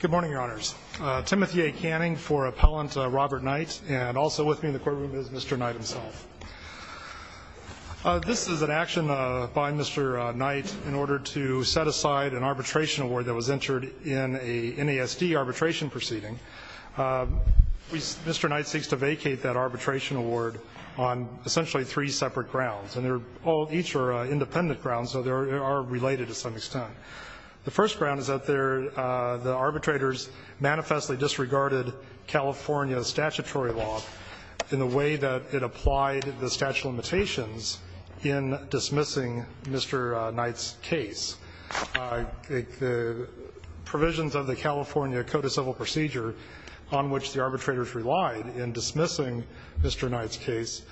Good morning, Your Honors. Timothy A. Canning for Appellant Robert Knight, and also with me in the courtroom is Mr. Knight himself. This is an action by Mr. Knight in order to set aside an arbitration award that was entered in a NASD arbitration proceeding. Mr. Knight seeks to vacate that arbitration award on essentially three separate grounds, and each are independent grounds, so they are related to some extent. The first ground is that the arbitrators manifestly disregarded California statutory law in the way that it applied the statute of limitations in dismissing Mr. Knight's case. The provisions of the California Code of Civil Procedure on which the arbitrators relied in dismissing Mr. Knight's case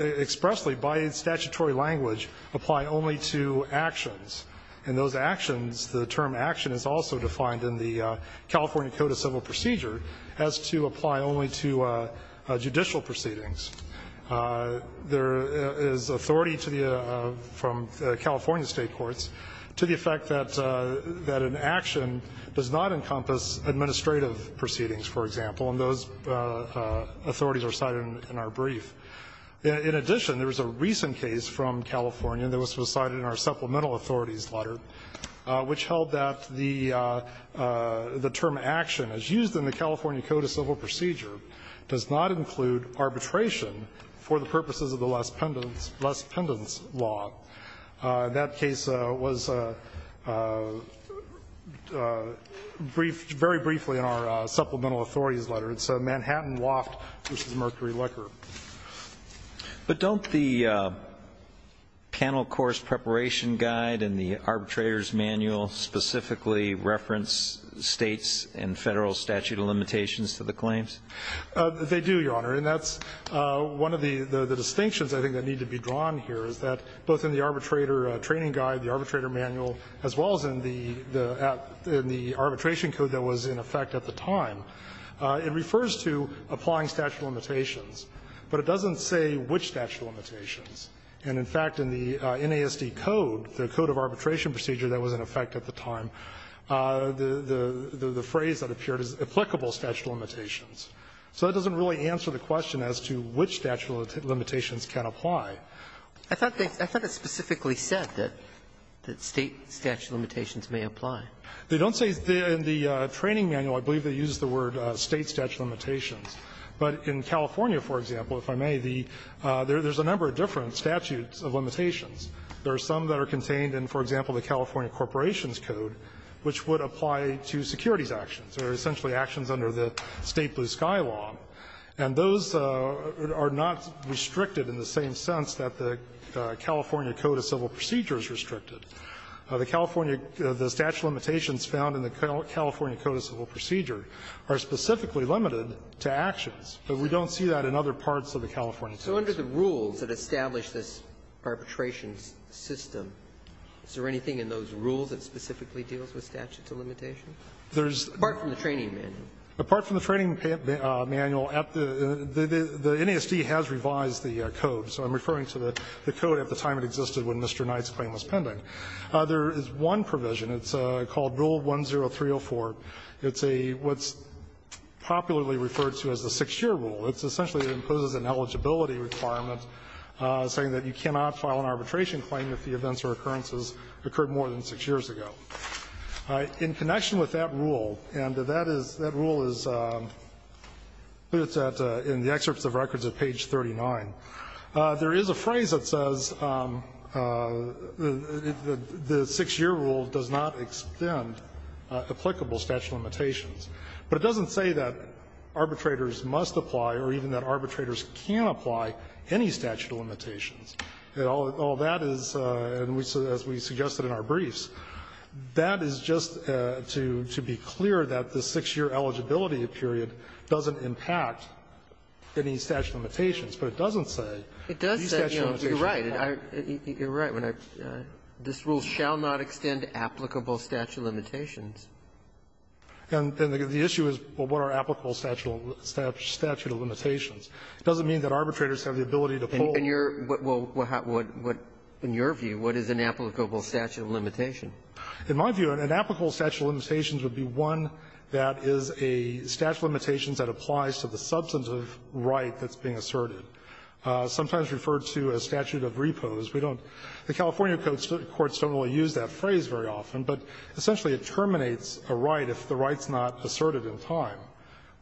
expressly by statutory language apply only to actions. In those actions, the term action is also defined in the California Code of Civil Procedure as to apply only to judicial proceedings. There is authority from California state courts to the effect that an action does not encompass administrative proceedings, for example, and those authorities are cited in our brief. In addition, there was a recent case from California that was decided in our supplemental authorities letter, which held that the term action as used in the California Code of Civil Procedure does not include arbitration for the purposes of the less pendants law. That case was very briefly in our supplemental authorities letter. It's Manhattan Loft versus Mercury Liquor. But don't the panel course preparation guide in the arbitrator's manual specifically reference States and Federal statute of limitations to the claims? They do, Your Honor, and that's one of the distinctions, I think, that need to be drawn here is that both in the arbitrator training guide, the arbitrator manual, as well as in the arbitration code that was in effect at the time, it refers to applying statute of limitations, but it doesn't say which statute of limitations. And, in fact, in the NASD code, the code of arbitration procedure that was in effect at the time, the phrase that appeared is applicable statute of limitations. So that doesn't really answer the question as to which statute of limitations can apply. I thought it specifically said that State statute of limitations may apply. They don't say in the training manual, I believe they use the word State statute of limitations. But in California, for example, if I may, there's a number of different statutes of limitations. There are some that are contained in, for example, the California Corporations Code, which would apply to securities actions, or essentially actions under the State blue sky law. And those are not restricted in the same sense that the California Code of Civil Procedures restricted. The California the statute of limitations found in the California Code of Civil Procedure are specifically limited to actions, but we don't see that in other parts of the California Code. So under the rules that establish this arbitration system, is there anything in those rules that specifically deals with statute of limitations? Apart from the training manual. Apart from the training manual, the NASD has revised the code, so I'm referring to the code at the time it existed when Mr. Knight's claim was pending. There is one provision. It's called Rule 10304. It's a what's popularly referred to as the 6-year rule. It's essentially it imposes an eligibility requirement saying that you cannot file an arbitration claim if the events or occurrences occurred more than 6 years ago. In connection with that rule, and that is, that rule is, it's in the excerpts of records at page 39. There is a phrase that says the 6-year rule does not extend applicable statute of limitations, but it doesn't say that arbitrators must apply or even that arbitrators can apply any statute of limitations. All that is, as we suggested in our briefs, that is just to be clear that the 6-year eligibility period doesn't impact any statute of limitations, but it doesn't say these statute of limitations. It does say, you know, you're right, you're right when I, this rule shall not extend applicable statute of limitations. And the issue is, well, what are applicable statute of limitations? It doesn't mean that arbitrators have the ability to pull. And you're, well, what, in your view, what is an applicable statute of limitation? In my view, an applicable statute of limitations would be one that is a statute of limitations that applies to the substantive right that's being asserted, sometimes referred to as statute of repose. We don't, the California courts don't really use that phrase very often, but essentially it terminates a right if the right's not asserted in time,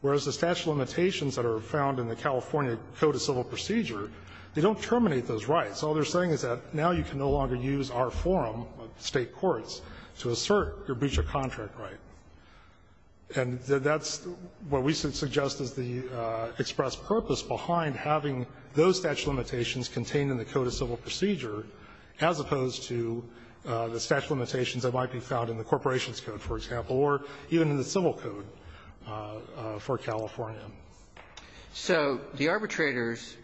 whereas the statute of limitations that are found in the California Code of Civil Procedure, they don't terminate those rights. All they're saying is that now you can no longer use our forum of State courts to assert your breach of contract right. And that's what we suggest is the express purpose behind having those statute of limitations contained in the Code of Civil Procedure as opposed to the statute of limitations that might be found in the Corporations Code, for example, or even in the Civil Code for California. So the arbitrators,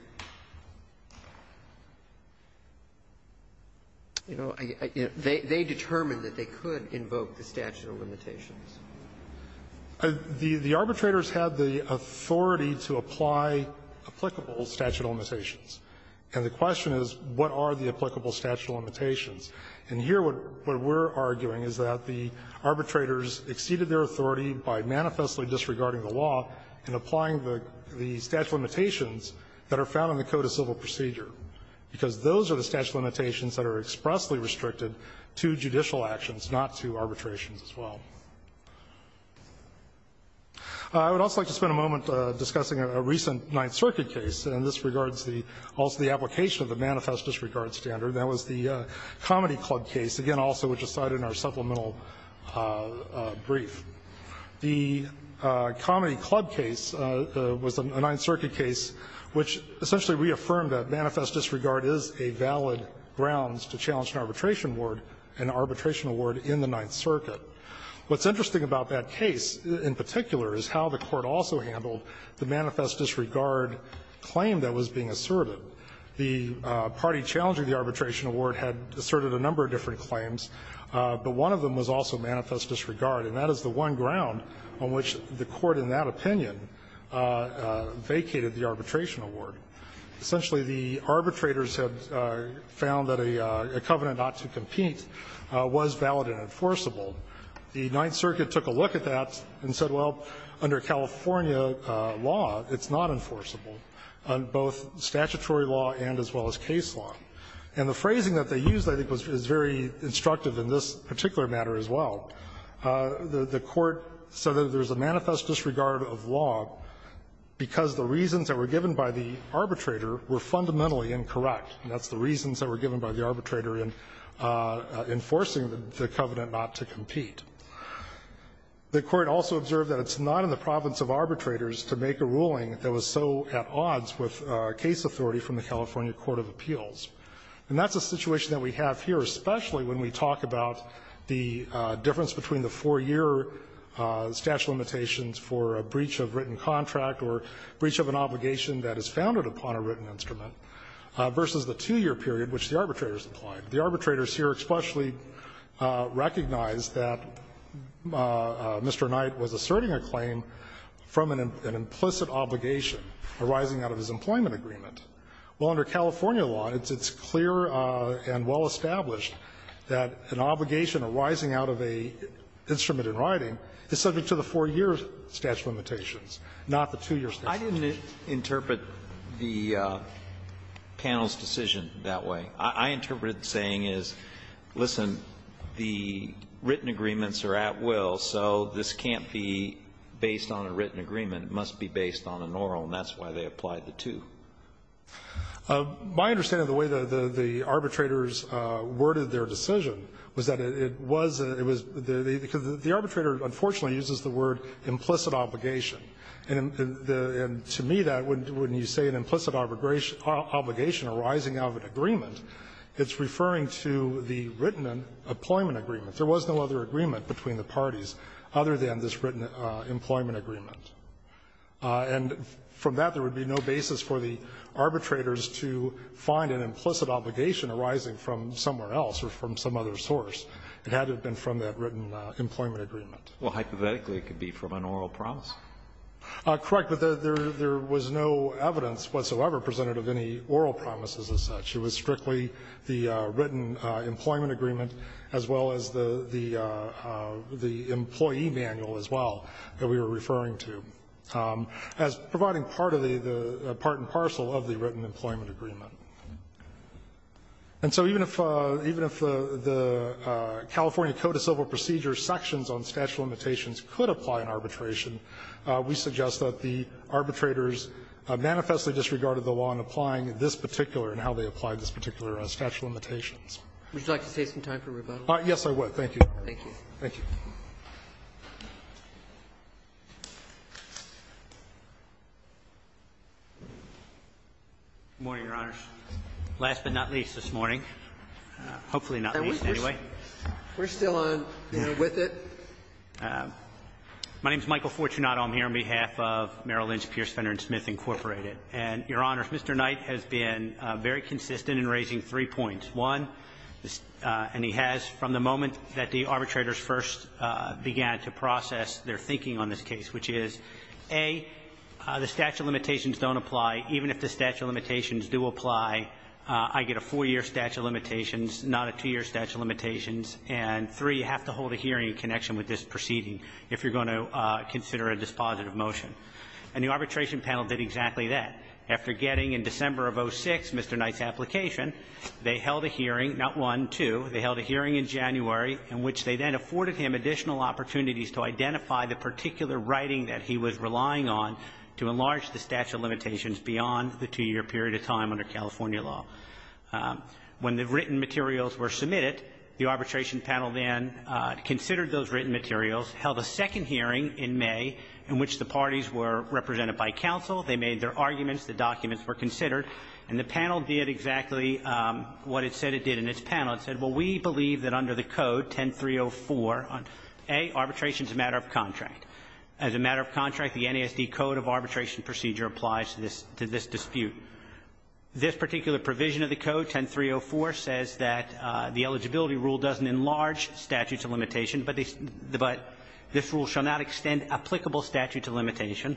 you know, they determined that they could invoke the statute of limitations. The arbitrators had the authority to apply applicable statute of limitations. And the question is, what are the applicable statute of limitations? And here what we're arguing is that the arbitrators exceeded their authority by manifestly disregarding the law and applying the statute of limitations that are found in the Code of Civil Procedure, because those are the statute of limitations that are expressly restricted to judicial actions, not to arbitrations as well. I would also like to spend a moment discussing a recent Ninth Circuit case, and this regards the also the application of the manifest disregard standard. That was the Comedy Club case, again, also which is cited in our supplemental brief. The Comedy Club case was a Ninth Circuit case which essentially reaffirmed that manifest disregard is a valid grounds to challenge an arbitration award, an arbitration award in the Ninth Circuit. What's interesting about that case in particular is how the Court also handled the manifest disregard claim that was being asserted. The party challenging the arbitration award had asserted a number of different claims, but one of them was also manifest disregard. And that is the one ground on which the Court in that opinion vacated the arbitration award. Essentially, the arbitrators had found that a covenant not to compete was valid and enforceable. The Ninth Circuit took a look at that and said, well, under California law, it's not enforceable, on both statutory law and as well as case law. And the phrasing that they used, I think, was very instructive in this particular matter as well. The Court said that there's a manifest disregard of law because the reasons that were given by the arbitrator were fundamentally incorrect, and that's the reasons that were given by the arbitrator in enforcing the covenant not to compete. The Court also observed that it's not in the province of arbitrators to make a ruling that was so at odds with case authority from the California Court of Appeals. And that's a situation that we have here, especially when we talk about the difference between the four-year statute of limitations for a breach of written contract or breach of an obligation that is founded upon a written instrument versus the two-year period which the arbitrators implied. The arbitrators here expressly recognized that Mr. Knight was asserting a claim from an implicit obligation arising out of his employment agreement. Well, under California law, it's clear and well established that an obligation arising out of an instrument in writing is subject to the four-year statute of limitations, not the two-year statute of limitations. Alito I didn't interpret the panel's decision that way. I interpreted it saying, listen, the written agreements are at will, so this can't be based on a written agreement. It must be based on an oral, and that's why they applied the two. My understanding of the way the arbitrators worded their decision was that it was the arbitrator, unfortunately, uses the word implicit obligation. And to me, that, when you say an implicit obligation arising out of an agreement, it's referring to the written employment agreement. There was no other agreement between the parties other than this written employment agreement. And from that, there would be no basis for the arbitrators to find an implicit obligation arising from somewhere else or from some other source. It had to have been from that written employment agreement. Well, hypothetically, it could be from an oral promise. Correct. But there was no evidence whatsoever presented of any oral promises as such. It was strictly the written employment agreement as well as the employee manual as well that we were referring to as providing part of the part and parcel of the written employment agreement. And so even if the California Code of Civil Procedures sections on statute of limitations could apply in arbitration, we suggest that the arbitrators manifestly disregarded the law in applying this particular and how they applied this particular statute of limitations. Would you like to save some time for rebuttal? Yes, I would. Thank you. Thank you. Thank you. Good morning, Your Honors. Last but not least this morning, hopefully not least anyway. We're still on, you know, with it. My name is Michael Fortunato. I'm here on behalf of Merrill Lynch, Pierce, Fenner, and Smith, Incorporated. And, Your Honors, Mr. Knight has been very consistent in raising three points. One, and he has from the moment that the arbitrators first began to process their thinking on this case, which is, A, the statute of limitations don't apply. Even if the statute of limitations do apply, I get a four-year statute of limitations, not a two-year statute of limitations. And three, you have to hold a hearing in connection with this proceeding if you're going to consider a dispositive motion. And the arbitration panel did exactly that. After getting, in December of 06, Mr. Knight's application, they held a hearing, not one, two, they held a hearing in January in which they then afforded him additional opportunities to identify the particular writing that he was relying on to enlarge the statute of limitations beyond the two-year period of time under California law. When the written materials were submitted, the arbitration panel then considered those written materials, held a second hearing in May in which the parties were represented by counsel. They made their arguments, the documents were considered, and the panel did exactly what it said it did in its panel. It said, well, we believe that under the code, 10304, A, arbitration is a matter of contract. As a matter of contract, the NASD code of arbitration procedure applies to this dispute. This particular provision of the code, 10304, says that the eligibility rule doesn't enlarge statutes of limitation, but this rule shall not extend applicable statutes of limitation.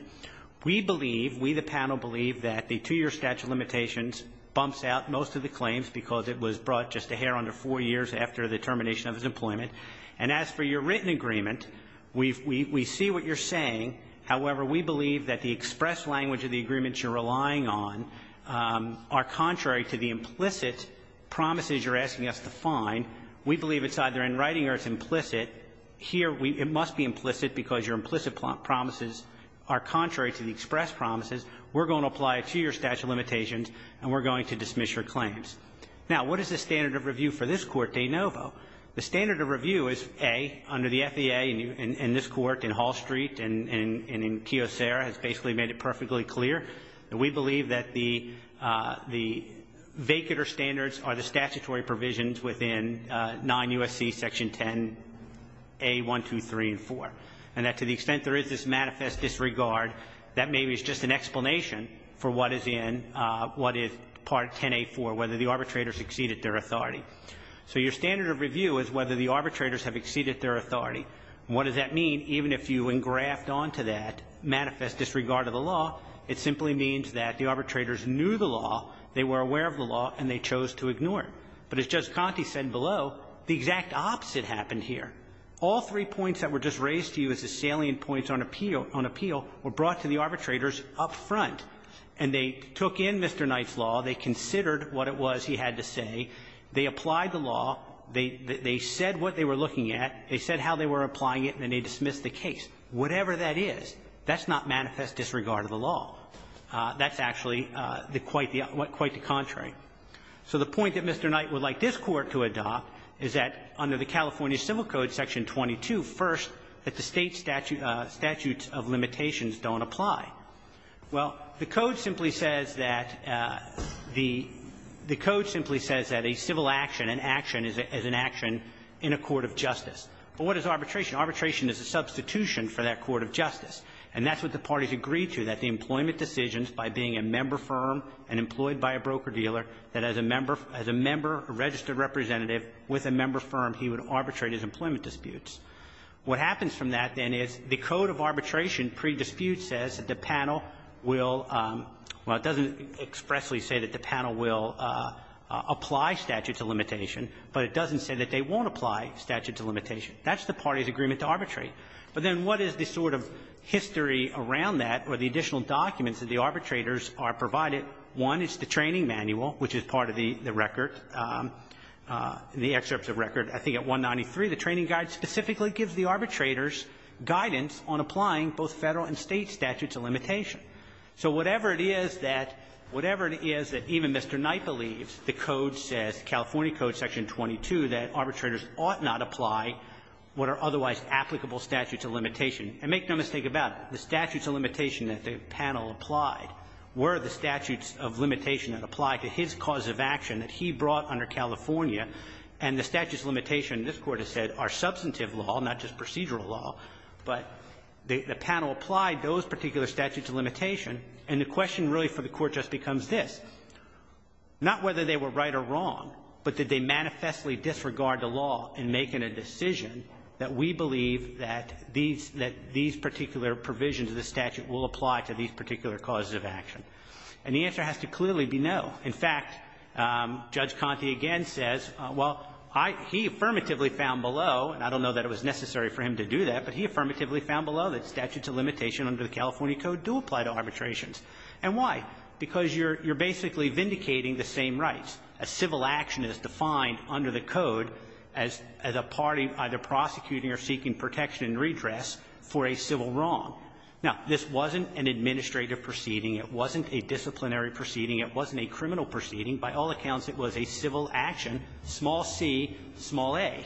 We believe, we the panel believe, that the two-year statute of limitations bumps out most of the claims because it was brought just a hair under four years after the termination of his employment. And as for your written agreement, we see what you're saying. However, we believe that the express language of the agreements you're relying on are contrary to the implicit promises you're asking us to find. We believe it's either in writing or it's implicit. Here, it must be implicit because your implicit promises are contrary to the express promises. We're going to apply it to your statute of limitations, and we're going to dismiss your claims. Now, what is the standard of review for this court, de novo? The standard of review is A, under the FAA, and this court, and Hall Street, and in Kiyosera, has basically made it perfectly clear. And we believe that the vacater standards are the statutory provisions within 9 U.S.C. Section 10, A, 1, 2, 3, and 4. And that to the extent there is this manifest disregard, that maybe is just an explanation for what is in what is part 10A4, whether the arbitrators exceeded their authority. So your standard of review is whether the arbitrators have exceeded their authority. And what does that mean? Even if you engraft onto that manifest disregard of the law, it simply means that the arbitrators knew the law, they were aware of the law, and they chose to ignore it. But as Judge Conte said below, the exact opposite happened here. All three points that were just raised to you as the salient points on appeal were brought to the arbitrators up front, and they took in Mr. Knight's law, they considered what it was he had to say, they applied the law, they said what they were looking at, they said how they were applying it, and then they dismissed the case. Whatever that is, that's not manifest disregard of the law. That's actually quite the contrary. So the point that Mr. Knight would like this Court to adopt is that under the California Civil Code, Section 22, first, that the State statute of limitations don't apply. Well, the Code simply says that the Code simply says that a civil action, an action is an action in a court of justice. But what is arbitration? Arbitration is a substitution for that court of justice. And that's what the parties agreed to, that the employment decisions by being a member of the firm and employed by a broker-dealer, that as a member, as a member, a registered representative with a member firm, he would arbitrate his employment disputes. What happens from that, then, is the Code of Arbitration pre-dispute says that the panel will – well, it doesn't expressly say that the panel will apply statute to limitation, but it doesn't say that they won't apply statute to limitation. That's the parties' agreement to arbitrate. But then what is the sort of history around that or the additional documents that the arbitrators are provided? One is the training manual, which is part of the record, the excerpts of record. I think at 193, the training guide specifically gives the arbitrators guidance on applying both Federal and State statutes of limitation. So whatever it is that – whatever it is that even Mr. Knight believes, the Code says, California Code section 22, that arbitrators ought not apply what are otherwise applicable statutes of limitation. And make no mistake about it, the statutes of limitation that the panel applied were the statutes of limitation that applied to his cause of action that he brought under California. And the statutes of limitation, this Court has said, are substantive law, not just procedural law. But the panel applied those particular statutes of limitation, and the question really for the Court just becomes this. Not whether they were right or wrong, but did they manifestly disregard the law in that these particular provisions of the statute will apply to these particular causes of action? And the answer has to clearly be no. In fact, Judge Conte again says, well, I – he affirmatively found below, and I don't know that it was necessary for him to do that, but he affirmatively found below that statutes of limitation under the California Code do apply to arbitrations. And why? Because you're – you're basically vindicating the same rights. A civil action is defined under the Code as – as a party either prosecuting or seeking protection and redress for a civil wrong. Now, this wasn't an administrative proceeding. It wasn't a disciplinary proceeding. It wasn't a criminal proceeding. By all accounts, it was a civil action, small c, small a.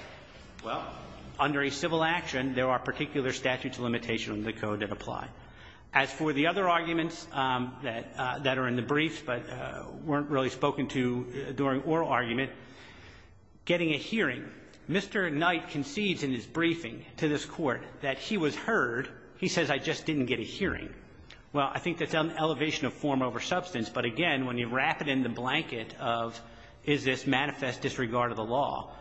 Well, under a civil action, there are particular statutes of limitation under the Code that apply. As for the other arguments that – that are in the briefs but weren't really spoken to during oral argument, getting a hearing, Mr. Knight concedes in his briefing to this Court that he was heard. He says, I just didn't get a hearing. Well, I think that's an elevation of form over substance, but again, when you wrap it in the blanket of is this manifest disregard of the law,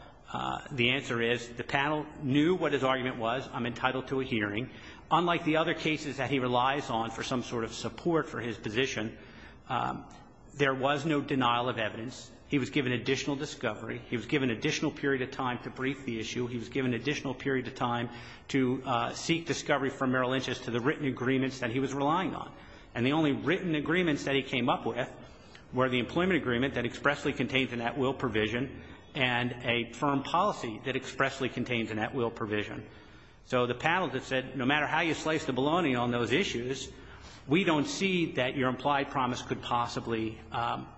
the answer is the panel knew what his argument was, I'm entitled to a hearing. Unlike the other cases that he relies on for some sort of support for his position, there was no denial of evidence. He was given additional discovery. He was given additional period of time to brief the issue. He was given additional period of time to seek discovery from Merrill Lynch as to the written agreements that he was relying on. And the only written agreements that he came up with were the employment agreement that expressly contains a net will provision and a firm policy that expressly contains a net will provision. So the panel that said, no matter how you slice the bologna on those issues, we don't see that your implied promise could possibly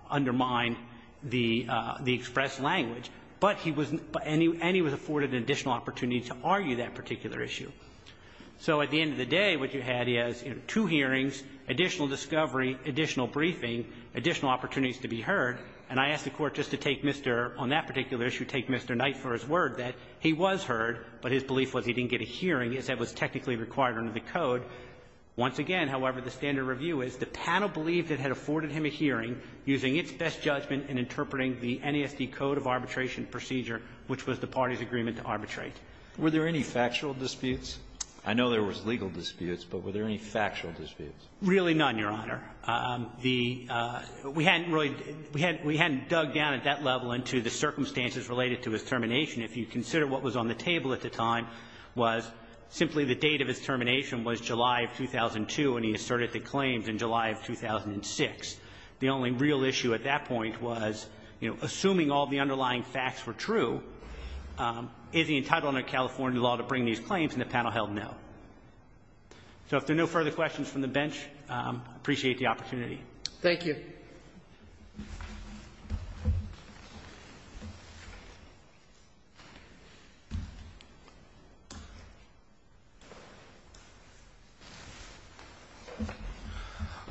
undermine the expressed language. But he was and he was afforded an additional opportunity to argue that particular issue. So at the end of the day, what you had is, you know, two hearings, additional discovery, additional briefing, additional opportunities to be heard. And I ask the Court just to take Mr. On that particular issue, take Mr. Knight for his word that he was heard, but his belief was he didn't get a hearing as that was technically required under the code. Once again, however, the standard review is the panel believed it had afforded him a hearing using its best judgment in interpreting the NESD code of arbitration procedure, which was the party's agreement to arbitrate. Alitoso, were there any factual disputes? I know there was legal disputes, but were there any factual disputes? Really none, Your Honor. The we hadn't really we hadn't we hadn't dug down at that level into the circumstances related to his termination. If you consider what was on the table at the time was simply the date of his termination was July of 2002, and he asserted the claims in July of 2006. The only real issue at that point was, you know, assuming all the underlying facts were true, is he entitled under California law to bring these claims? And the panel held no. So if there are no further questions from the bench, I appreciate the opportunity. Thank you.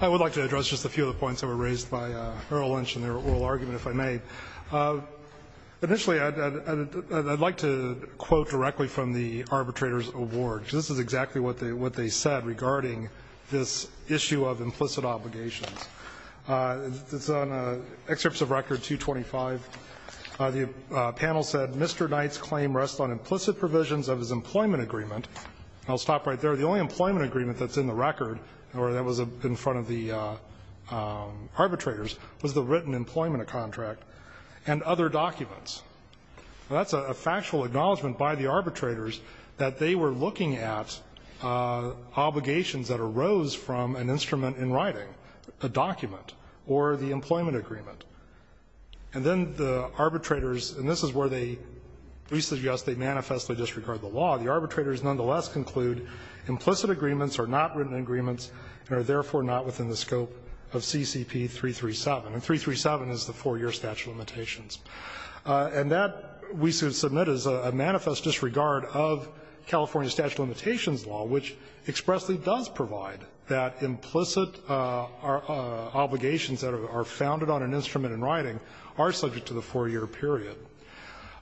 I would like to address just a few of the points that were raised by Earl Lynch in their oral argument, if I may. Initially, I'd like to quote directly from the arbitrator's award, because this is exactly what they said regarding this issue of implicit obligations. It's on Excerpts of Record 225. The panel said, Mr. Knight's claim rests on implicit provisions of his employment agreement. I'll stop right there. The only employment agreement that's in the record or that was in front of the arbitrators was the written employment contract and other documents. That's a factual acknowledgment by the arbitrators that they were looking at obligations that arose from an instrument in writing, a document, or the employment agreement. And then the arbitrators, and this is where they re-suggest they manifestly disregard the law. The arbitrators nonetheless conclude implicit agreements are not written agreements and are therefore not within the scope of CCP 337, and 337 is the four-year statute of limitations. And that, we submit, is a manifest disregard of California statute of limitations law, which expressly does provide that implicit obligations that are founded on an instrument in writing are subject to the four-year period.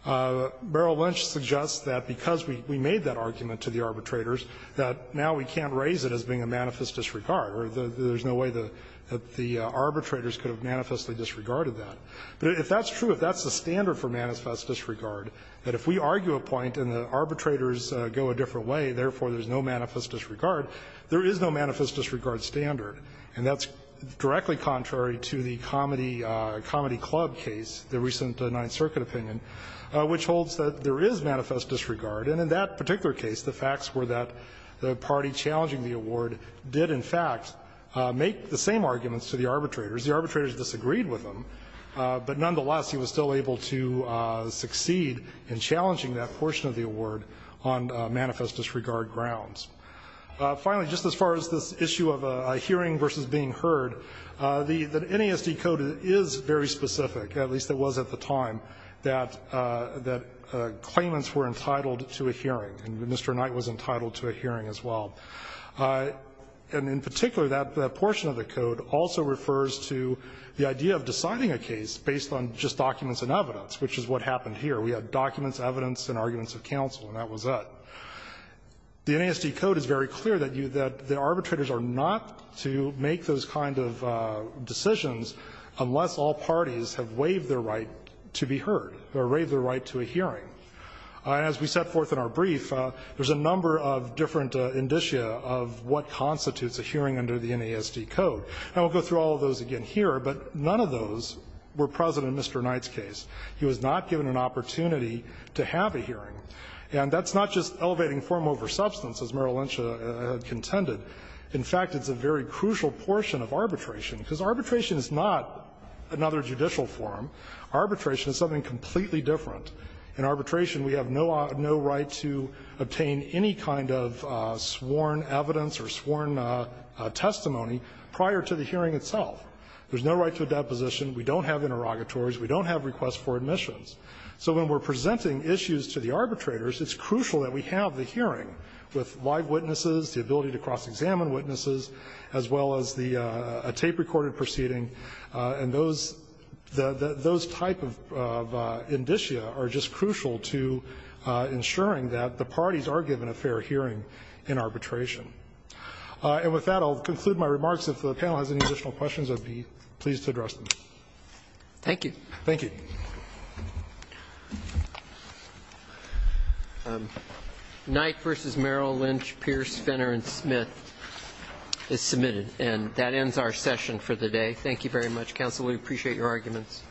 Merrill Lynch suggests that because we made that argument to the arbitrators that now we can't raise it as being a manifest disregard, or there's no way that the arbitrators could have manifestly disregarded that. But if that's true, if that's the standard for manifest disregard, that if we argue a point and the arbitrators go a different way, therefore there's no manifest disregard, there is no manifest disregard standard. And that's directly contrary to the Comedy Club case, the recent Ninth Circuit opinion, which holds that there is manifest disregard. And in that particular case, the facts were that the party challenging the award did, in fact, make the same arguments to the arbitrators. The arbitrators disagreed with them, but nonetheless he was still able to succeed in challenging that portion of the award on manifest disregard grounds. Finally, just as far as this issue of a hearing versus being heard, the NASD code is very specific, at least it was at the time, that claimants were entitled to a hearing, and Mr. Knight was entitled to a hearing as well. And in particular, that portion of the code also refers to the idea of deciding a case based on just documents and evidence, which is what happened here. We had documents, evidence, and arguments of counsel, and that was that. The NASD code is very clear that the arbitrators are not to make those kind of decisions unless all parties have waived their right to be heard, or waived their right to a hearing. As we set forth in our brief, there's a number of different indicia of what constitutes a hearing under the NASD code. And we'll go through all of those again here, but none of those were present in Mr. Knight's case. He was not given an opportunity to have a hearing. And that's not just elevating form over substance, as Merrill Lynch contended. In fact, it's a very crucial portion of arbitration, because arbitration is not another judicial form. Arbitration is something completely different. In arbitration, we have no right to obtain any kind of sworn evidence or sworn testimony prior to the hearing itself. There's no right to a deposition. We don't have interrogatories. We don't have requests for admissions. So when we're presenting issues to the arbitrators, it's crucial that we have the hearing with live witnesses, the ability to cross-examine witnesses, as well as the tape-recorded proceeding. And those type of indicia are just crucial to ensuring that the parties are given a fair hearing in arbitration. And with that, I'll conclude my remarks. If the panel has any additional questions, I'd be pleased to address them. Thank you. Thank you. Knight v. Merrill Lynch, Pierce, Fenner, and Smith is submitted. And that ends our session for the day. Thank you very much, counsel. We appreciate your arguments.